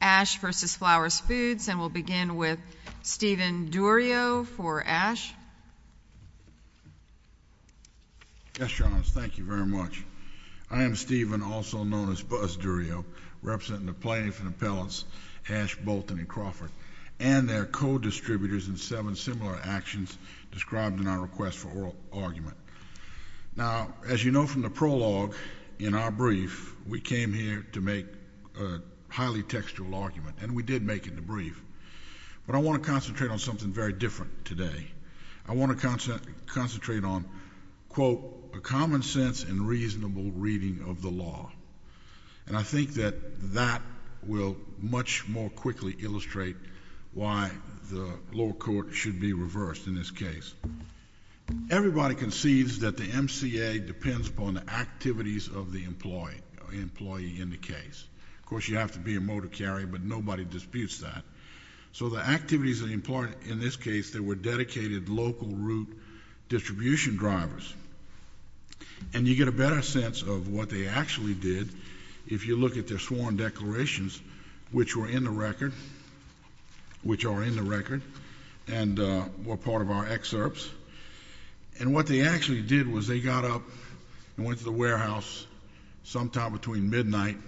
Ash v. Flowers Foods, and we'll begin with Stephen Durio for Ash. Yes, Your Honor. Thank you very much. I am Stephen, also known as Buzz Durio, representing the plaintiff and appellants Ash Bolton and Crawford and their co-distributors in seven similar actions described in our request for oral argument. Now, as you know from the prologue in our brief, we came here to make a highly textual argument, and we did make it in the brief. But I want to concentrate on something very different today. I want to concentrate on, quote, a common sense and reasonable reading of the law. And I think that that will much more quickly illustrate why the lower court should be reversed in this case. Everybody concedes that the MCA depends upon the activities of the employee in the case. Of course, you have to be a motor carrier, but nobody disputes that. So the activities in this case, they were dedicated local route distribution drivers. And you get a better sense of what they actually did if you look at their sworn declarations, which were in the record, and were part of our excerpts. And what they actually did was they got up and went to the warehouse sometime between midnight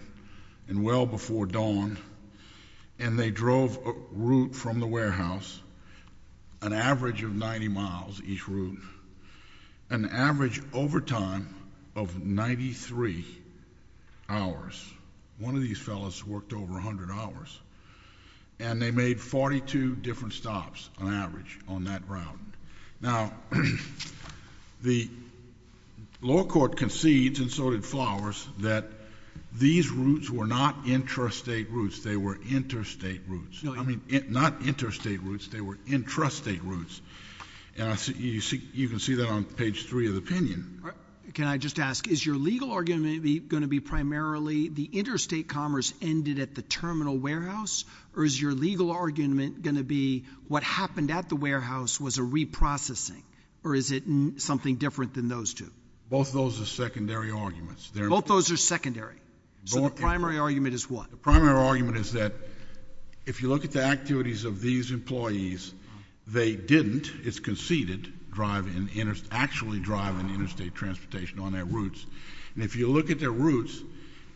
and well before dawn, and they drove a route from the warehouse, an average of 90 miles each route, an average overtime of 93 hours. One of these fellows worked over 100 hours. And they made 42 different stops on average on that route. Now, the lower court concedes, and so did Flowers, that these routes were not interstate routes. They were interstate routes. I mean, not interstate routes. They were intrastate routes. And you can see that on page three of the opinion. Can I just ask, is your legal argument going to be primarily the interstate commerce ended at the terminal warehouse, or is your legal argument going to be what happened at the warehouse was a reprocessing, or is it something different than those two? Both those are secondary arguments. Both those are secondary. So the primary argument is what? The primary argument is that if you look at the activities of these employees, they didn't, it's conceded, actually drive in interstate transportation on their routes. And if you look at their routes,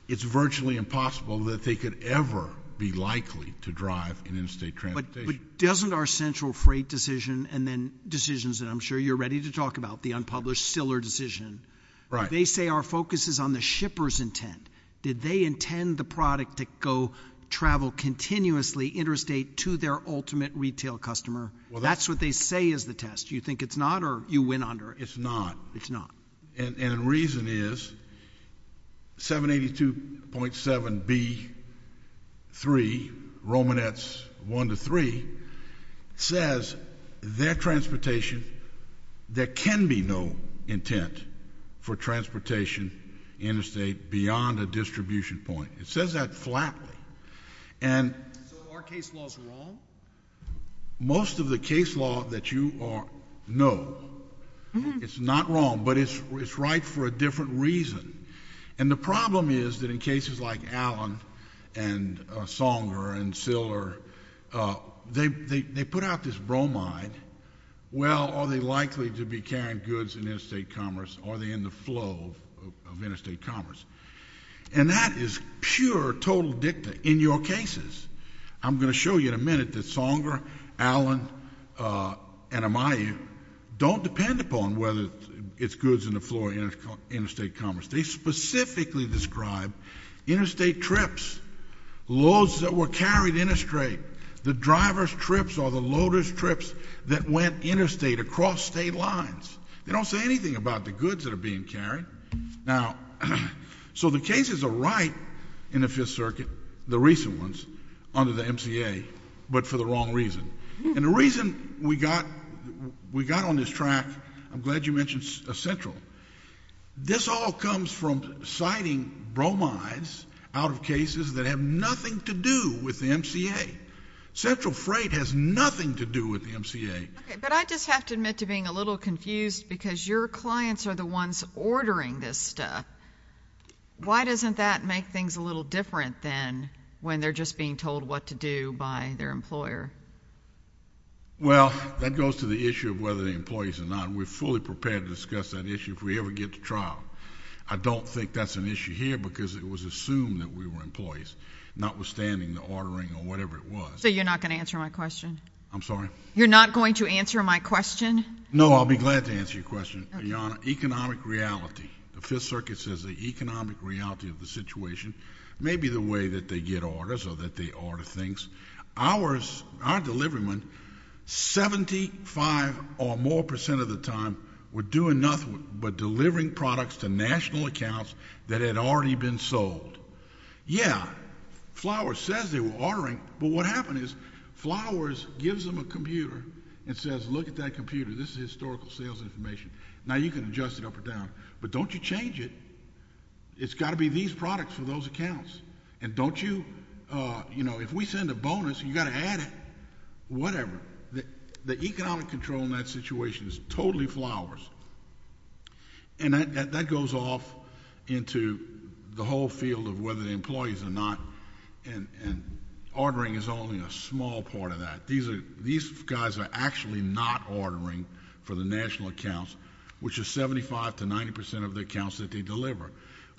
it's virtually impossible that they could ever be likely to drive in interstate transportation. But doesn't our central freight decision, and then decisions that I'm sure you're ready to talk about, the unpublished Stiller decision, they say our focus is on the shipper's intent. Did they intend the product to go travel continuously interstate to their ultimate retail customer? That's what they say is the test. Do you think it's not, or you win under it? It's not. It's not. And the reason is 782.7B3, Romanettes 1 to 3, says their transportation, there can be no intent for transportation interstate beyond a distribution point. It says that flatly. So are case laws wrong? Most of the case law that you know, it's not wrong, but it's right for a different reason. And the problem is that in cases like Allen and Songer and Stiller, they put out this bromide, well, are they likely to be carrying goods in interstate commerce, or are they in the flow of interstate commerce? And that is pure, total dicta in your cases. I'm going to show you in a minute that Songer, Allen, and Amayu don't depend upon whether it's goods in the flow of interstate commerce. They specifically describe interstate trips, loads that were carried interstate, the driver's trips or the loader's trips that went interstate across state lines. They don't say anything about the goods that are being carried. Now, so the cases are right in the Fifth Circuit, the recent ones, under the MCA, but for the wrong reason. And the reason we got on this track, I'm glad you mentioned Central. This all comes from citing bromides out of cases that have nothing to do with the MCA. Central Freight has nothing to do with the MCA. Okay, but I just have to admit to being a little confused because your clients are the ones ordering this stuff. Why doesn't that make things a little different than when they're just being told what to do by their employer? Well, that goes to the issue of whether they're employees or not. We're fully prepared to discuss that issue if we ever get to trial. I don't think that's an issue here because it was assumed that we were employees, notwithstanding the ordering or whatever it was. So you're not going to answer my question? I'm sorry? You're not going to answer my question? No, I'll be glad to answer your question, Your Honor. Economic reality. The Fifth Circuit says the economic reality of the situation may be the way that they get orders or that they order things. Ours, our deliverment, 75 or more percent of the time were doing nothing but delivering products to national accounts that had already been sold. Yeah, Flowers says they were ordering, but what happened is Flowers gives them a computer and says, look at that computer. This is historical sales information. Now, you can adjust it up or down, but don't you change it. It's got to be these products for those accounts, and don't you, you know, if we send a bonus, you've got to add it. Whatever. The economic control in that situation is totally Flowers. And that goes off into the whole field of whether the employees are not, and ordering is only a small part of that. These guys are actually not ordering for the national accounts, which is 75 to 90 percent of the accounts that they deliver.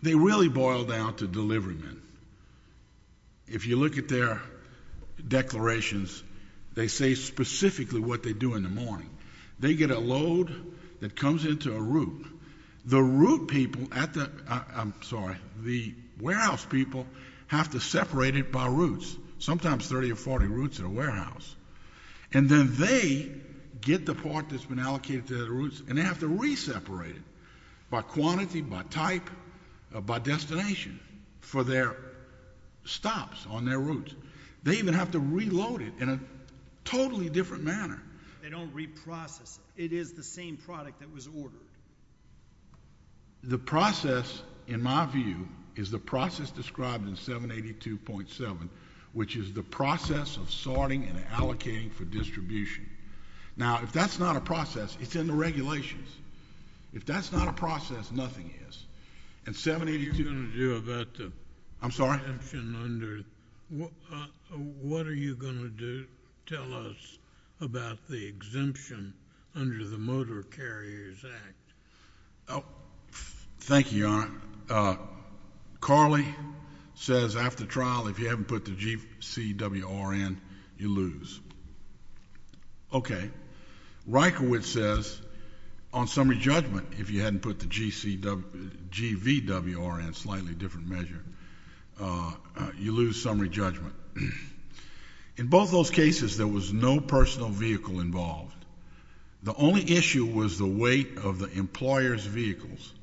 They really boil down to deliverymen. If you look at their declarations, they say specifically what they do in the morning. They get a load that comes into a route. The route people at the, I'm sorry, the warehouse people have to separate it by routes, sometimes 30 or 40 routes at a warehouse. And then they get the part that's been allocated to their routes, and they have to reseparate it by quantity, by type, by destination for their stops on their routes. They even have to reload it in a totally different manner. They don't reprocess it. It is the same product that was ordered. The process, in my view, is the process described in 782.7, which is the process of sorting and allocating for distribution. Now, if that's not a process, it's in the regulations. If that's not a process, nothing is. And 782 — What are you going to do about the — I'm sorry? What are you going to do? Tell us about the exemption under the Motor Carriers Act. Thank you, Your Honor. Carly says after trial, if you haven't put the GCWR in, you lose. Okay. Reichowitz says on summary judgment, if you hadn't put the GVWR in, a slightly different measure, you lose summary judgment. In both those cases, there was no personal vehicle involved. The only issue was the weight of the employer's vehicles.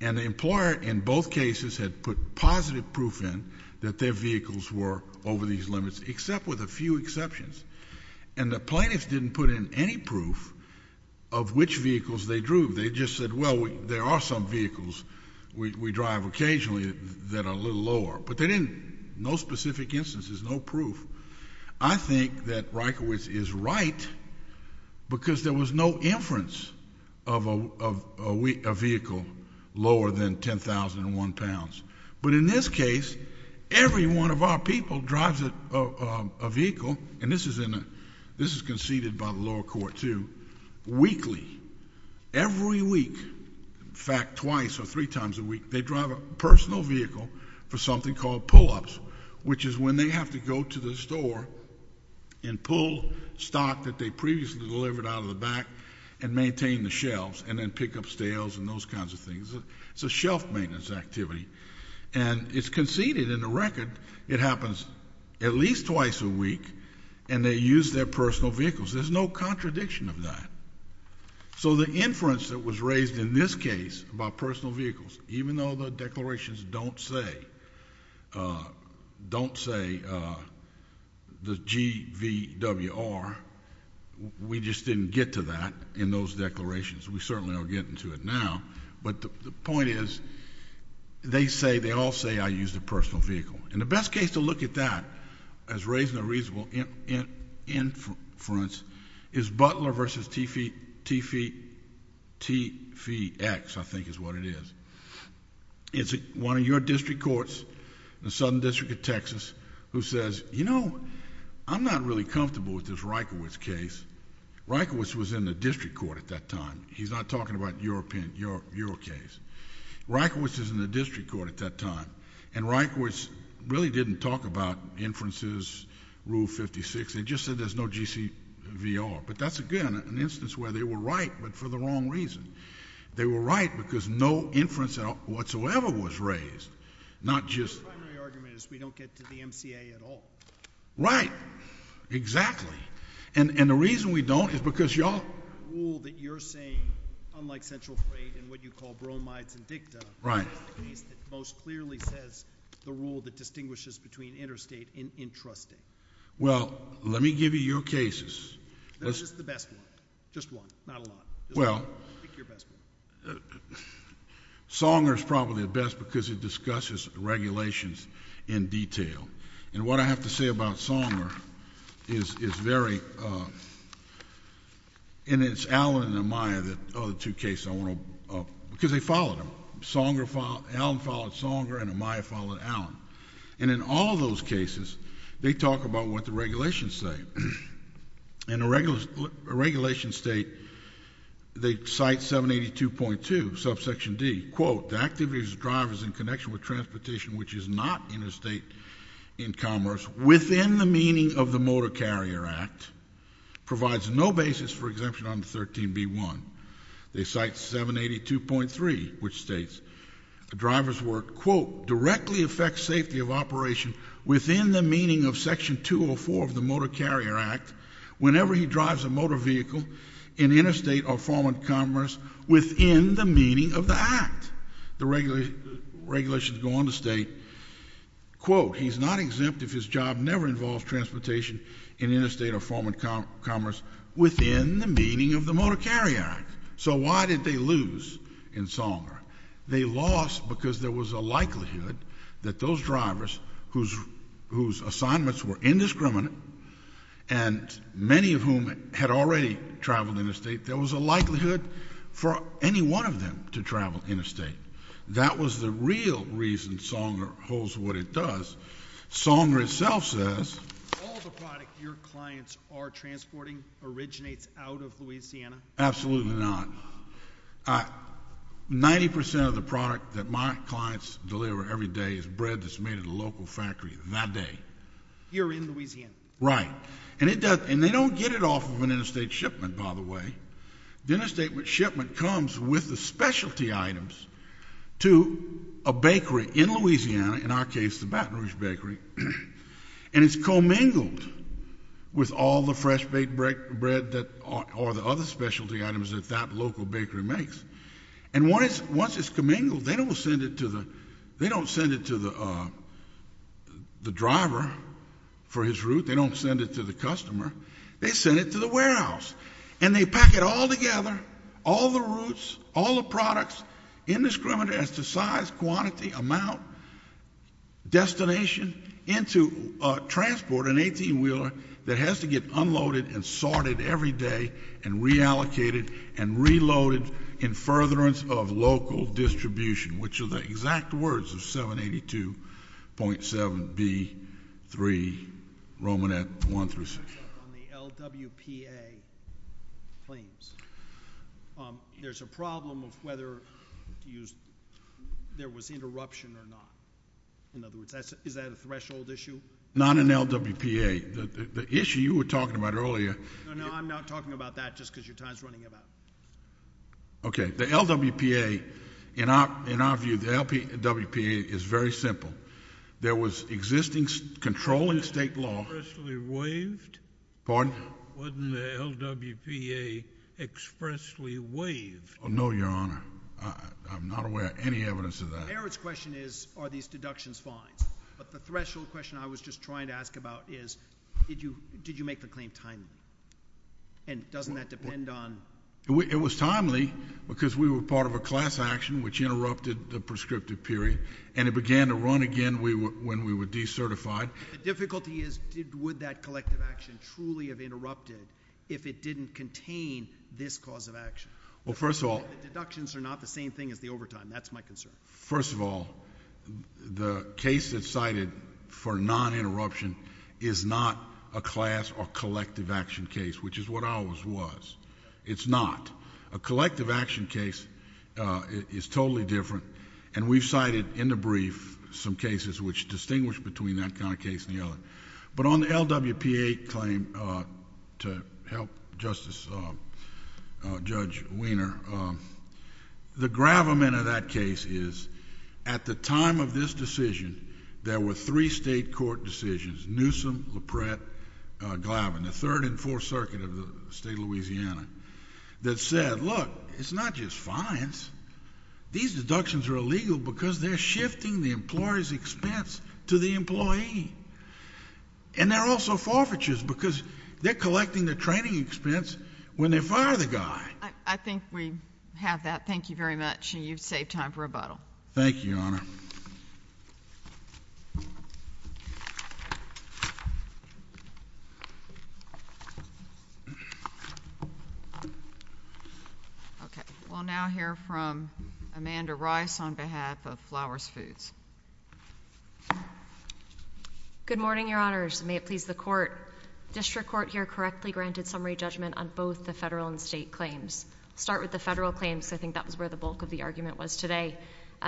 And the employer in both cases had put positive proof in that their vehicles were over these limits, except with a few exceptions. And the plaintiffs didn't put in any proof of which vehicles they drove. They just said, well, there are some vehicles we drive occasionally that are a little lower. But they didn't — no specific instances, no proof. I think that Reichowitz is right because there was no inference of a vehicle lower than 10,001 pounds. But in this case, every one of our people drives a vehicle, and this is conceded by the lower court too, weekly. Every week, in fact, twice or three times a week, they drive a personal vehicle for something called pull-ups, which is when they have to go to the store and pull stock that they previously delivered out of the back and maintain the shelves and then pick up stales and those kinds of things. It's a shelf maintenance activity. And it's conceded in the record it happens at least twice a week, and they use their personal vehicles. There's no contradiction of that. So the inference that was raised in this case about personal vehicles, even though the declarations don't say the GVWR, we just didn't get to that in those declarations. We certainly are getting to it now, but the point is they all say I used a personal vehicle. And the best case to look at that as raising a reasonable inference is Butler v. Teefee X, I think is what it is. It's one of your district courts in the Southern District of Texas who says, you know, I'm not really comfortable with this Reichowitz case. Reichowitz was in the district court at that time. He's not talking about your case. Reichowitz is in the district court at that time. And Reichowitz really didn't talk about inferences, Rule 56. They just said there's no GVWR. But that's again an instance where they were right, but for the wrong reason. The primary argument is we don't get to the MCA at all. Right. Exactly. And the reason we don't is because y'all... The rule that you're saying, unlike central freight and what you call bromides and dicta... Right.... is the case that most clearly says the rule that distinguishes between interstate and intrastate. Well, let me give you your cases. Just the best one. Just one. Not a lot. Well... Pick your best one. Songer is probably the best because it discusses regulations in detail. And what I have to say about Songer is very... And it's Allen and Amaya, the other two cases I want to... Because they followed him. Allen followed Songer and Amaya followed Allen. And in all of those cases, they talk about what the regulations say. In a regulation state, they cite 782.2, subsection D. Quote, the activities of drivers in connection with transportation which is not interstate in commerce, within the meaning of the Motor Carrier Act, provides no basis for exemption under 13B1. They cite 782.3, which states, the driver's work, quote, directly affects safety of operation within the meaning of Section 204 of the Motor Carrier Act whenever he drives a motor vehicle in interstate or foreign commerce within the meaning of the Act. The regulations go on to state, quote, he's not exempt if his job never involves transportation in interstate or foreign commerce within the meaning of the Motor Carrier Act. So why did they lose in Songer? They lost because there was a likelihood that those drivers whose assignments were indiscriminate and many of whom had already traveled interstate, there was a likelihood for any one of them to travel interstate. That was the real reason Songer holds what it does. Songer itself says... All the product your clients are transporting originates out of Louisiana? Absolutely not. Ninety percent of the product that my clients deliver every day is bread that's made at a local factory that day. You're in Louisiana. Right. And they don't get it off of an interstate shipment, by the way. The interstate shipment comes with the specialty items to a bakery in Louisiana, in our case the Baton Rouge Bakery, and it's commingled with all the fresh-baked bread or the other specialty items that that local bakery makes. And once it's commingled, they don't send it to the driver for his route. They don't send it to the customer. They send it to the warehouse, and they pack it all together, all the routes, all the products, indiscriminate as to size, quantity, amount, destination, into a transporter, an 18-wheeler, that has to get unloaded and sorted every day and reallocated and reloaded in furtherance of local distribution, which are the exact words of 782.7B3, Romanette 1 through 6. On the LWPA claims, there's a problem of whether there was interruption or not. In other words, is that a threshold issue? Not an LWPA. The issue you were talking about earlier. No, no, I'm not talking about that just because your time is running out. Okay. The LWPA, in our view, the LWPA is very simple. There was existing controlling state law. Expressly waived? Pardon? Wasn't the LWPA expressly waived? No, Your Honor. I'm not aware of any evidence of that. The merits question is, are these deductions fine? But the threshold question I was just trying to ask about is, did you make the claim timely? And doesn't that depend on? It was timely because we were part of a class action which interrupted the prescriptive period, and it began to run again when we were decertified. The difficulty is, would that collective action truly have interrupted if it didn't contain this cause of action? Well, first of all. The deductions are not the same thing as the overtime. That's my concern. First of all, the case that's cited for non-interruption is not a class or collective action case, which is what ours was. It's not. A collective action case is totally different, and we've cited in the brief some cases which distinguish between that kind of case and the other. But on the LWPA claim, to help Justice Judge Wiener, the gravamen of that case is, at the time of this decision, there were three state court decisions, Newsom, LaPretre, Glavin, the third and fourth circuit of the state of Louisiana, that said, Look, it's not just fines. These deductions are illegal because they're shifting the employer's expense to the employee. And they're also forfeitures because they're collecting the training expense when they fire the guy. I think we have that. Thank you very much, and you've saved time for rebuttal. Thank you, Your Honor. Okay. We'll now hear from Amanda Rice on behalf of Flowers Foods. Good morning, Your Honors. May it please the court. The district court here correctly granted summary judgment on both the federal and state claims. I'll start with the federal claims because I think that was where the bulk of the argument was today.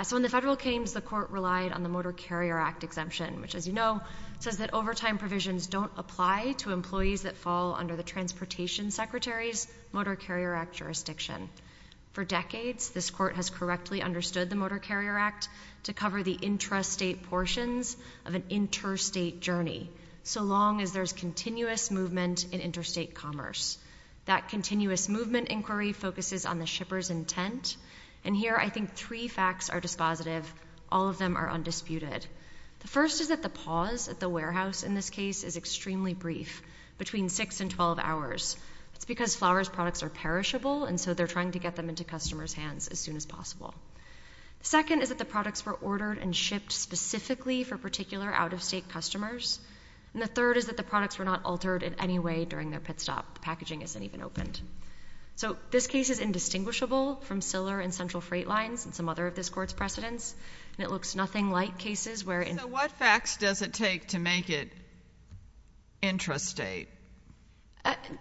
So in the federal claims, the court relied on the Motor Carrier Act exemption, which, as you know, says that overtime provisions don't apply to employees that fall under the Transportation Secretary's Motor Carrier Act jurisdiction. For decades, this court has correctly understood the Motor Carrier Act to cover the intrastate portions of an interstate journey, so long as there's continuous movement in interstate commerce. That continuous movement inquiry focuses on the shipper's intent, and here I think three facts are dispositive. All of them are undisputed. The first is that the pause at the warehouse in this case is extremely brief, between 6 and 12 hours. It's because Flowers products are perishable, and so they're trying to get them into customers' hands as soon as possible. The second is that the products were ordered and shipped specifically for particular out-of-state customers. And the third is that the products were not altered in any way during their pit stop. The packaging isn't even opened. So this case is indistinguishable from Ciller and Central Freight Lines and some other of this court's precedents, and it looks nothing like cases where— So what facts does it take to make it intrastate?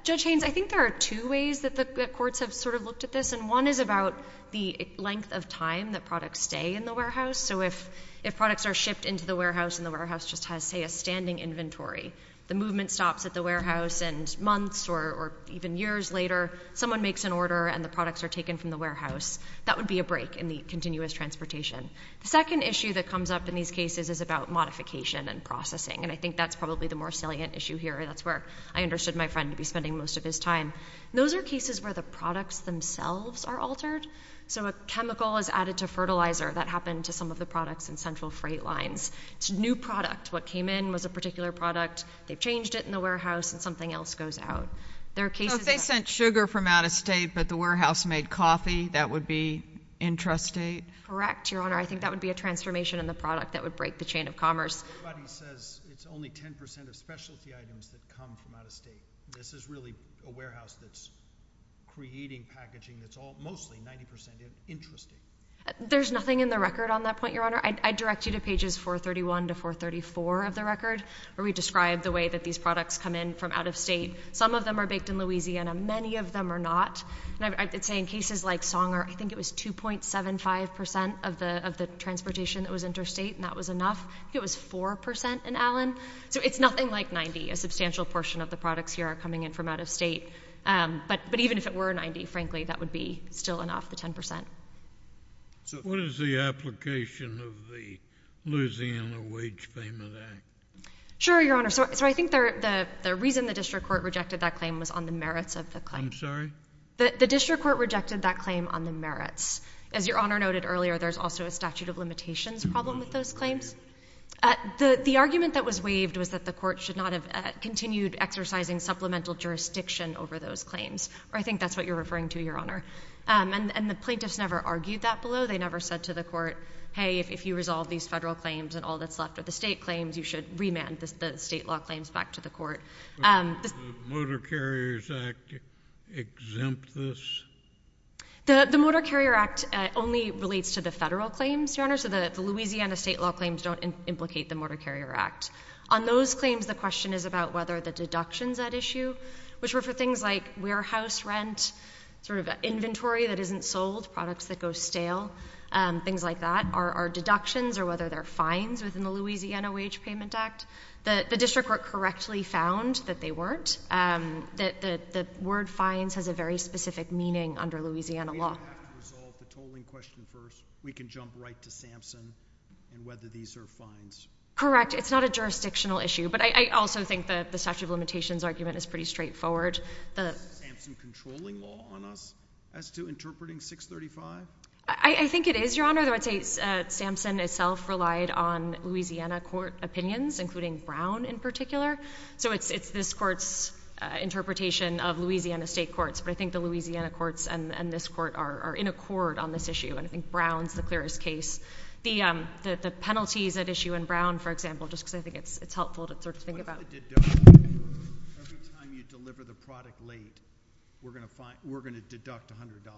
Judge Haynes, I think there are two ways that the courts have sort of looked at this, and one is about the length of time that products stay in the warehouse. So if products are shipped into the warehouse and the warehouse just has, say, a standing inventory, the movement stops at the warehouse and months or even years later someone makes an order and the products are taken from the warehouse, that would be a break in the continuous transportation. The second issue that comes up in these cases is about modification and processing, and I think that's probably the more salient issue here, and that's where I understood my friend to be spending most of his time. Those are cases where the products themselves are altered. So a chemical is added to fertilizer. That happened to some of the products in Central Freight Lines. It's a new product. What came in was a particular product. They've changed it in the warehouse, and something else goes out. If they sent sugar from out of state but the warehouse made coffee, that would be intrastate? Correct, Your Honor. I think that would be a transformation in the product that would break the chain of commerce. Everybody says it's only 10 percent of specialty items that come from out of state. This is really a warehouse that's creating packaging that's mostly 90 percent intrastate. There's nothing in the record on that point, Your Honor. I'd direct you to pages 431 to 434 of the record where we describe the way that these products come in from out of state. Some of them are baked in Louisiana. Many of them are not. I'd say in cases like Songer, I think it was 2.75 percent of the transportation that was intrastate, and that was enough. I think it was 4 percent in Allen. So it's nothing like 90. A substantial portion of the products here are coming in from out of state. But even if it were 90, frankly, that would be still enough, the 10 percent. What is the application of the Louisiana Wage Payment Act? Sure, Your Honor. So I think the reason the district court rejected that claim was on the merits of the claim. I'm sorry? The district court rejected that claim on the merits. As Your Honor noted earlier, there's also a statute of limitations problem with those claims. The argument that was waived was that the court should not have continued exercising supplemental jurisdiction over those claims. Or I think that's what you're referring to, Your Honor. And the plaintiffs never argued that below. They never said to the court, hey, if you resolve these federal claims and all that's left are the state claims, you should remand the state law claims back to the court. Does the Motor Carriers Act exempt this? The Motor Carrier Act only relates to the federal claims, Your Honor. So the Louisiana state law claims don't implicate the Motor Carrier Act. On those claims, the question is about whether the deductions at issue, which were for things like warehouse rent, sort of inventory that isn't sold, products that go stale, things like that, are deductions or whether they're fines within the Louisiana Wage Payment Act. The district court correctly found that they weren't. The word fines has a very specific meaning under Louisiana law. If we have to resolve the tolling question first, we can jump right to Sampson and whether these are fines. Correct. It's not a jurisdictional issue. But I also think the statute of limitations argument is pretty straightforward. Is Sampson controlling law on us as to interpreting 635? I think it is, Your Honor. I would say Sampson itself relied on Louisiana court opinions, including Brown in particular. So it's this court's interpretation of Louisiana state courts. But I think the Louisiana courts and this court are in accord on this issue. And I think Brown's the clearest case. The penalties at issue in Brown, for example, just because I think it's helpful to sort of think about. Every time you deliver the product late, we're going to deduct $100.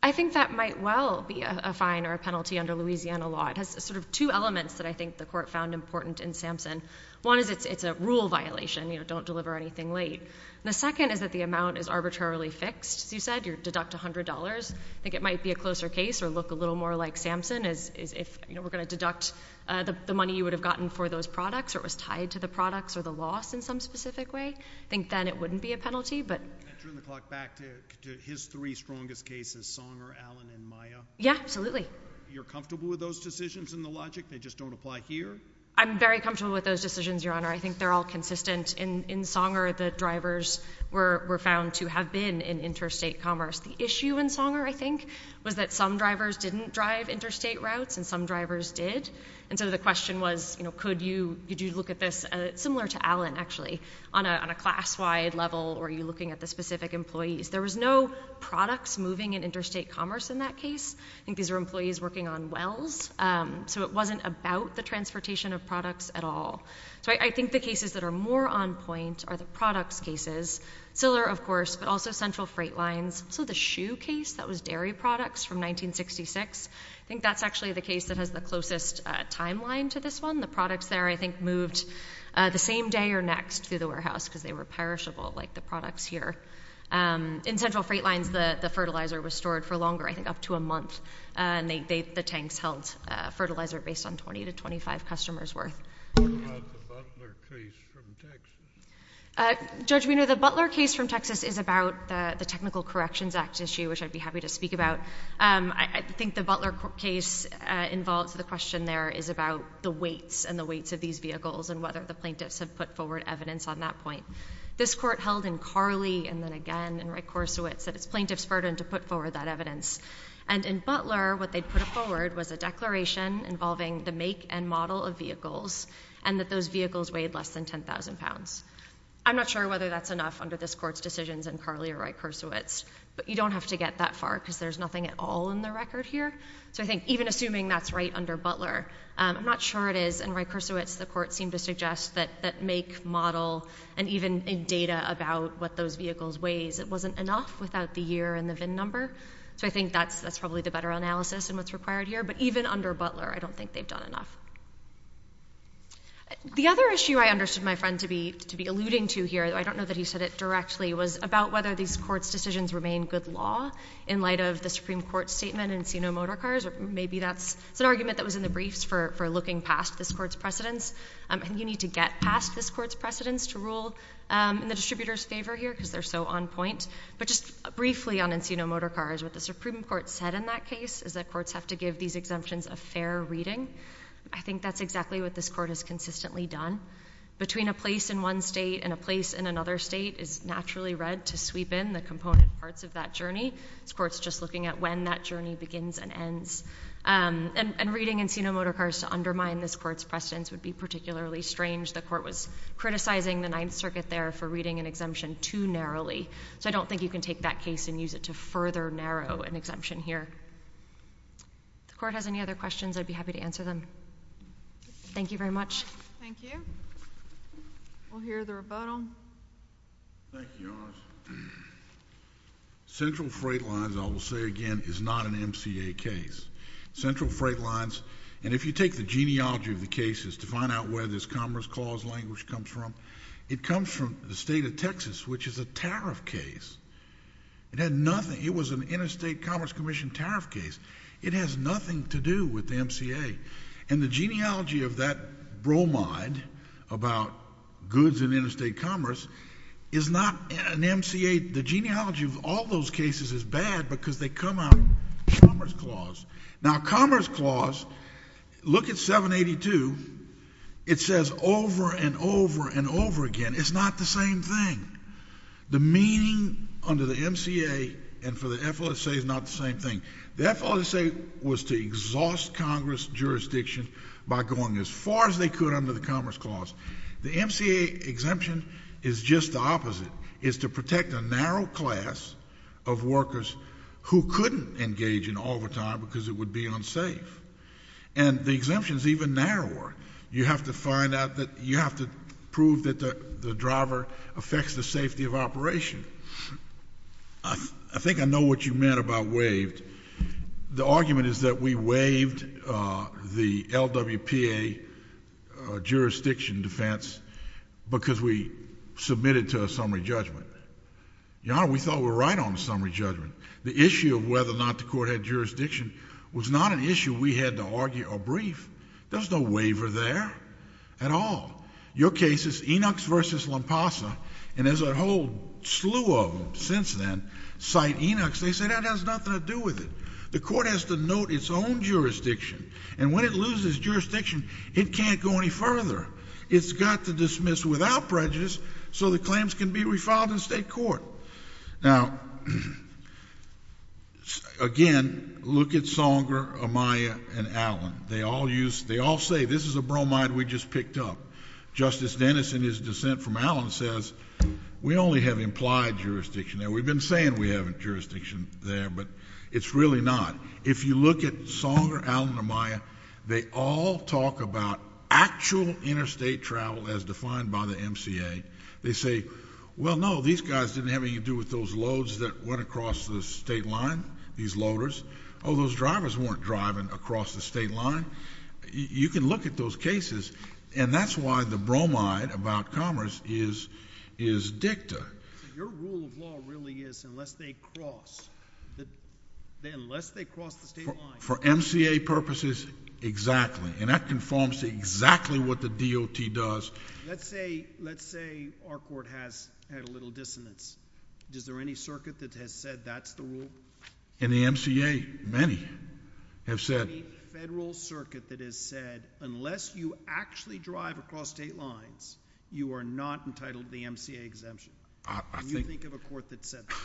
I think that might well be a fine or a penalty under Louisiana law. It has sort of two elements that I think the court found important in Sampson. One is it's a rule violation, you know, don't deliver anything late. The second is that the amount is arbitrarily fixed. As you said, you deduct $100. I think it might be a closer case or look a little more like Sampson is if, you know, we're going to deduct the money you would have gotten for those products or it was tied to the products or the loss in some specific way. I think then it wouldn't be a penalty. Can I turn the clock back to his three strongest cases, Songer, Allen, and Maya? Yeah, absolutely. You're comfortable with those decisions in the logic? They just don't apply here? I'm very comfortable with those decisions, Your Honor. I think they're all consistent. In Songer, the drivers were found to have been in interstate commerce. The issue in Songer, I think, was that some drivers didn't drive interstate routes and some drivers did, and so the question was, you know, could you look at this? Similar to Allen, actually, on a class-wide level, were you looking at the specific employees? There was no products moving in interstate commerce in that case. I think these were employees working on wells, so it wasn't about the transportation of products at all. So I think the cases that are more on point are the products cases, Siller, of course, but also Central Freight Lines. So the shoe case that was dairy products from 1966, I think that's actually the case that has the closest timeline to this one. The products there, I think, moved the same day or next through the warehouse because they were perishable, like the products here. In Central Freight Lines, the fertilizer was stored for longer, I think up to a month, and the tanks held fertilizer based on 20 to 25 customers' worth. What about the Butler case from Texas? Judge, we know the Butler case from Texas is about the Technical Corrections Act issue, which I'd be happy to speak about. I think the Butler case involves the question there is about the weights and the weights of these vehicles and whether the plaintiffs have put forward evidence on that point. This court held in Carley and then again in Rykorsiewicz that it's plaintiffs' burden to put forward that evidence. And in Butler, what they put forward was a declaration involving the make and model of vehicles and that those vehicles weighed less than 10,000 pounds. I'm not sure whether that's enough under this court's decisions in Carley or Rykorsiewicz, but you don't have to get that far because there's nothing at all in the record here. So I think even assuming that's right under Butler, I'm not sure it is. In Rykorsiewicz, the court seemed to suggest that make, model, and even in data about what those vehicles weighed, it wasn't enough without the year and the VIN number. So I think that's probably the better analysis in what's required here. But even under Butler, I don't think they've done enough. The other issue I understood my friend to be alluding to here, I don't know that he said it directly, was about whether these court's decisions remain good law in light of the Supreme Court's statement in Encino Motorcars. Maybe that's an argument that was in the briefs for looking past this court's precedents. You need to get past this court's precedents to rule in the distributor's favor here because they're so on point. But just briefly on Encino Motorcars, what the Supreme Court said in that case is that courts have to give these exemptions a fair reading. I think that's exactly what this court has consistently done. Between a place in one state and a place in another state is naturally read to sweep in the component parts of that journey. This court's just looking at when that journey begins and ends. And reading Encino Motorcars to undermine this court's precedents would be particularly strange. The court was criticizing the Ninth Circuit there for reading an exemption too narrowly. So I don't think you can take that case and use it to further narrow an exemption here. If the court has any other questions, I'd be happy to answer them. Thank you very much. Thank you. We'll hear the rebuttal. Thank you, Your Honor. Central Freight Lines, I will say again, is not an MCA case. Central Freight Lines... and if you take the genealogy of the cases to find out where this Commerce Clause language comes from, it comes from the state of Texas, which is a tariff case. It had nothing... it was an Interstate Commerce Commission tariff case. It has nothing to do with the MCA. And the genealogy of that bromide about goods in interstate commerce is not an MCA. The genealogy of all those cases is bad because they come out of Commerce Clause. Now, Commerce Clause... look at 782. It says over and over and over again, it's not the same thing. The meaning under the MCA and for the FLSA is not the same thing. The FLSA was to exhaust Congress jurisdiction by going as far as they could under the Commerce Clause. The MCA exemption is just the opposite. It's to protect a narrow class of workers who couldn't engage in overtime because it would be unsafe. And the exemption is even narrower. You have to find out that... you have to prove that the driver affects the safety of operation. I think I know what you meant about waived. The argument is that we waived the LWPA jurisdiction defense because we submitted to a summary judgment. Your Honor, we thought we were right on the summary judgment. The issue of whether or not the court had jurisdiction was not an issue we had to argue or brief. There's no waiver there at all. Your cases, Enochs v. Lompasa, and there's a whole slew of them since then, cite Enochs. They say that has nothing to do with it. The court has to note its own jurisdiction. And when it loses jurisdiction, it can't go any further. It's got to dismiss without prejudice so the claims can be refiled in state court. Now, again, look at Songer, Amaya, and Allen. They all say this is a bromide we just picked up. Justice Dennis, in his dissent from Allen, says we only have implied jurisdiction there. We've been saying we have jurisdiction there, but it's really not. If you look at Songer, Allen, or Amaya, they all talk about actual interstate travel as defined by the MCA. They say, well, no, these guys didn't have anything to do with those loads that went across the state line, these loaders. Oh, those drivers weren't driving across the state line. You can look at those cases, and that's why the bromide about commerce is dicta. Your rule of law really is unless they cross the state line... For MCA purposes, exactly, and that conforms to exactly what the DOT does. Let's say our court has had a little dissonance. Is there any circuit that has said that's the rule? Is there any federal circuit that has said unless you actually drive across state lines, you are not entitled to the MCA exemption? Can you think of a court that said that?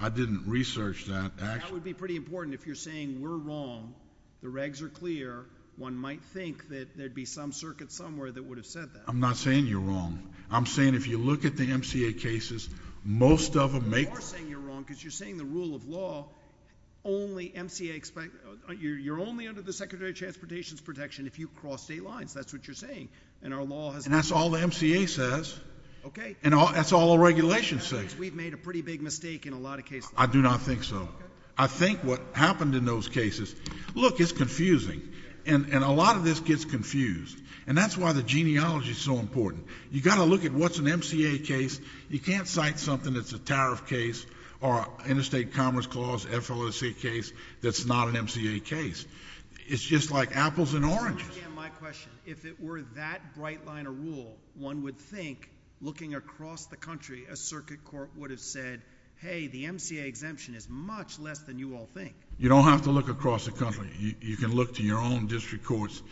I didn't research that. That would be pretty important if you're saying we're wrong, the regs are clear. One might think that there'd be some circuit somewhere that would have said that. I'm not saying you're wrong. I'm saying if you look at the MCA cases, most of them make... And only under the Secretary of Transportation's protection if you cross state lines, that's what you're saying. And our law has... And that's all the MCA says. Okay. And that's all the regulations say. That means we've made a pretty big mistake in a lot of cases. I do not think so. Okay. I think what happened in those cases... Look, it's confusing, and a lot of this gets confused, and that's why the genealogy is so important. You've got to look at what's an MCA case. You can't cite something that's a tariff case or interstate commerce clause FLSA case that's not an MCA case. It's just like apples and oranges. And again, my question, if it were that bright line of rule, one would think looking across the country, a circuit court would have said, hey, the MCA exemption is much less than you all think. You don't have to look across the country. You can look to your own district courts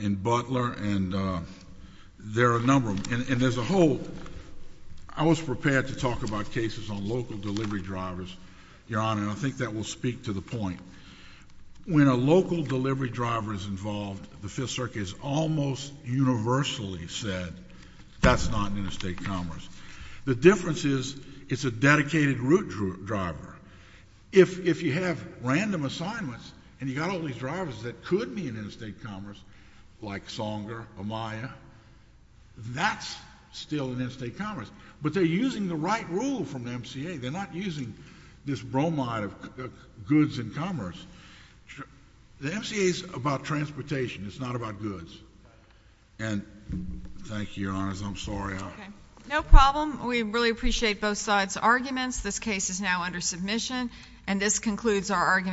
in Butler, and there are a number of them. And as a whole, I was prepared to talk about cases on local delivery drivers, Your Honor, and I think that will speak to the point. When a local delivery driver is involved, the Fifth Circuit has almost universally said that's not an interstate commerce. The difference is it's a dedicated route driver. If you have random assignments and you've got all these drivers that could be an interstate commerce, like Songer, Amaya, that's still an interstate commerce. But they're using the right rule from the MCA. They're not using this bromide of goods and commerce. The MCA is about transportation. It's not about goods. And thank you, Your Honors. I'm sorry. No problem. We really appreciate both sides' arguments. This case is now under submission, and this concludes our argument.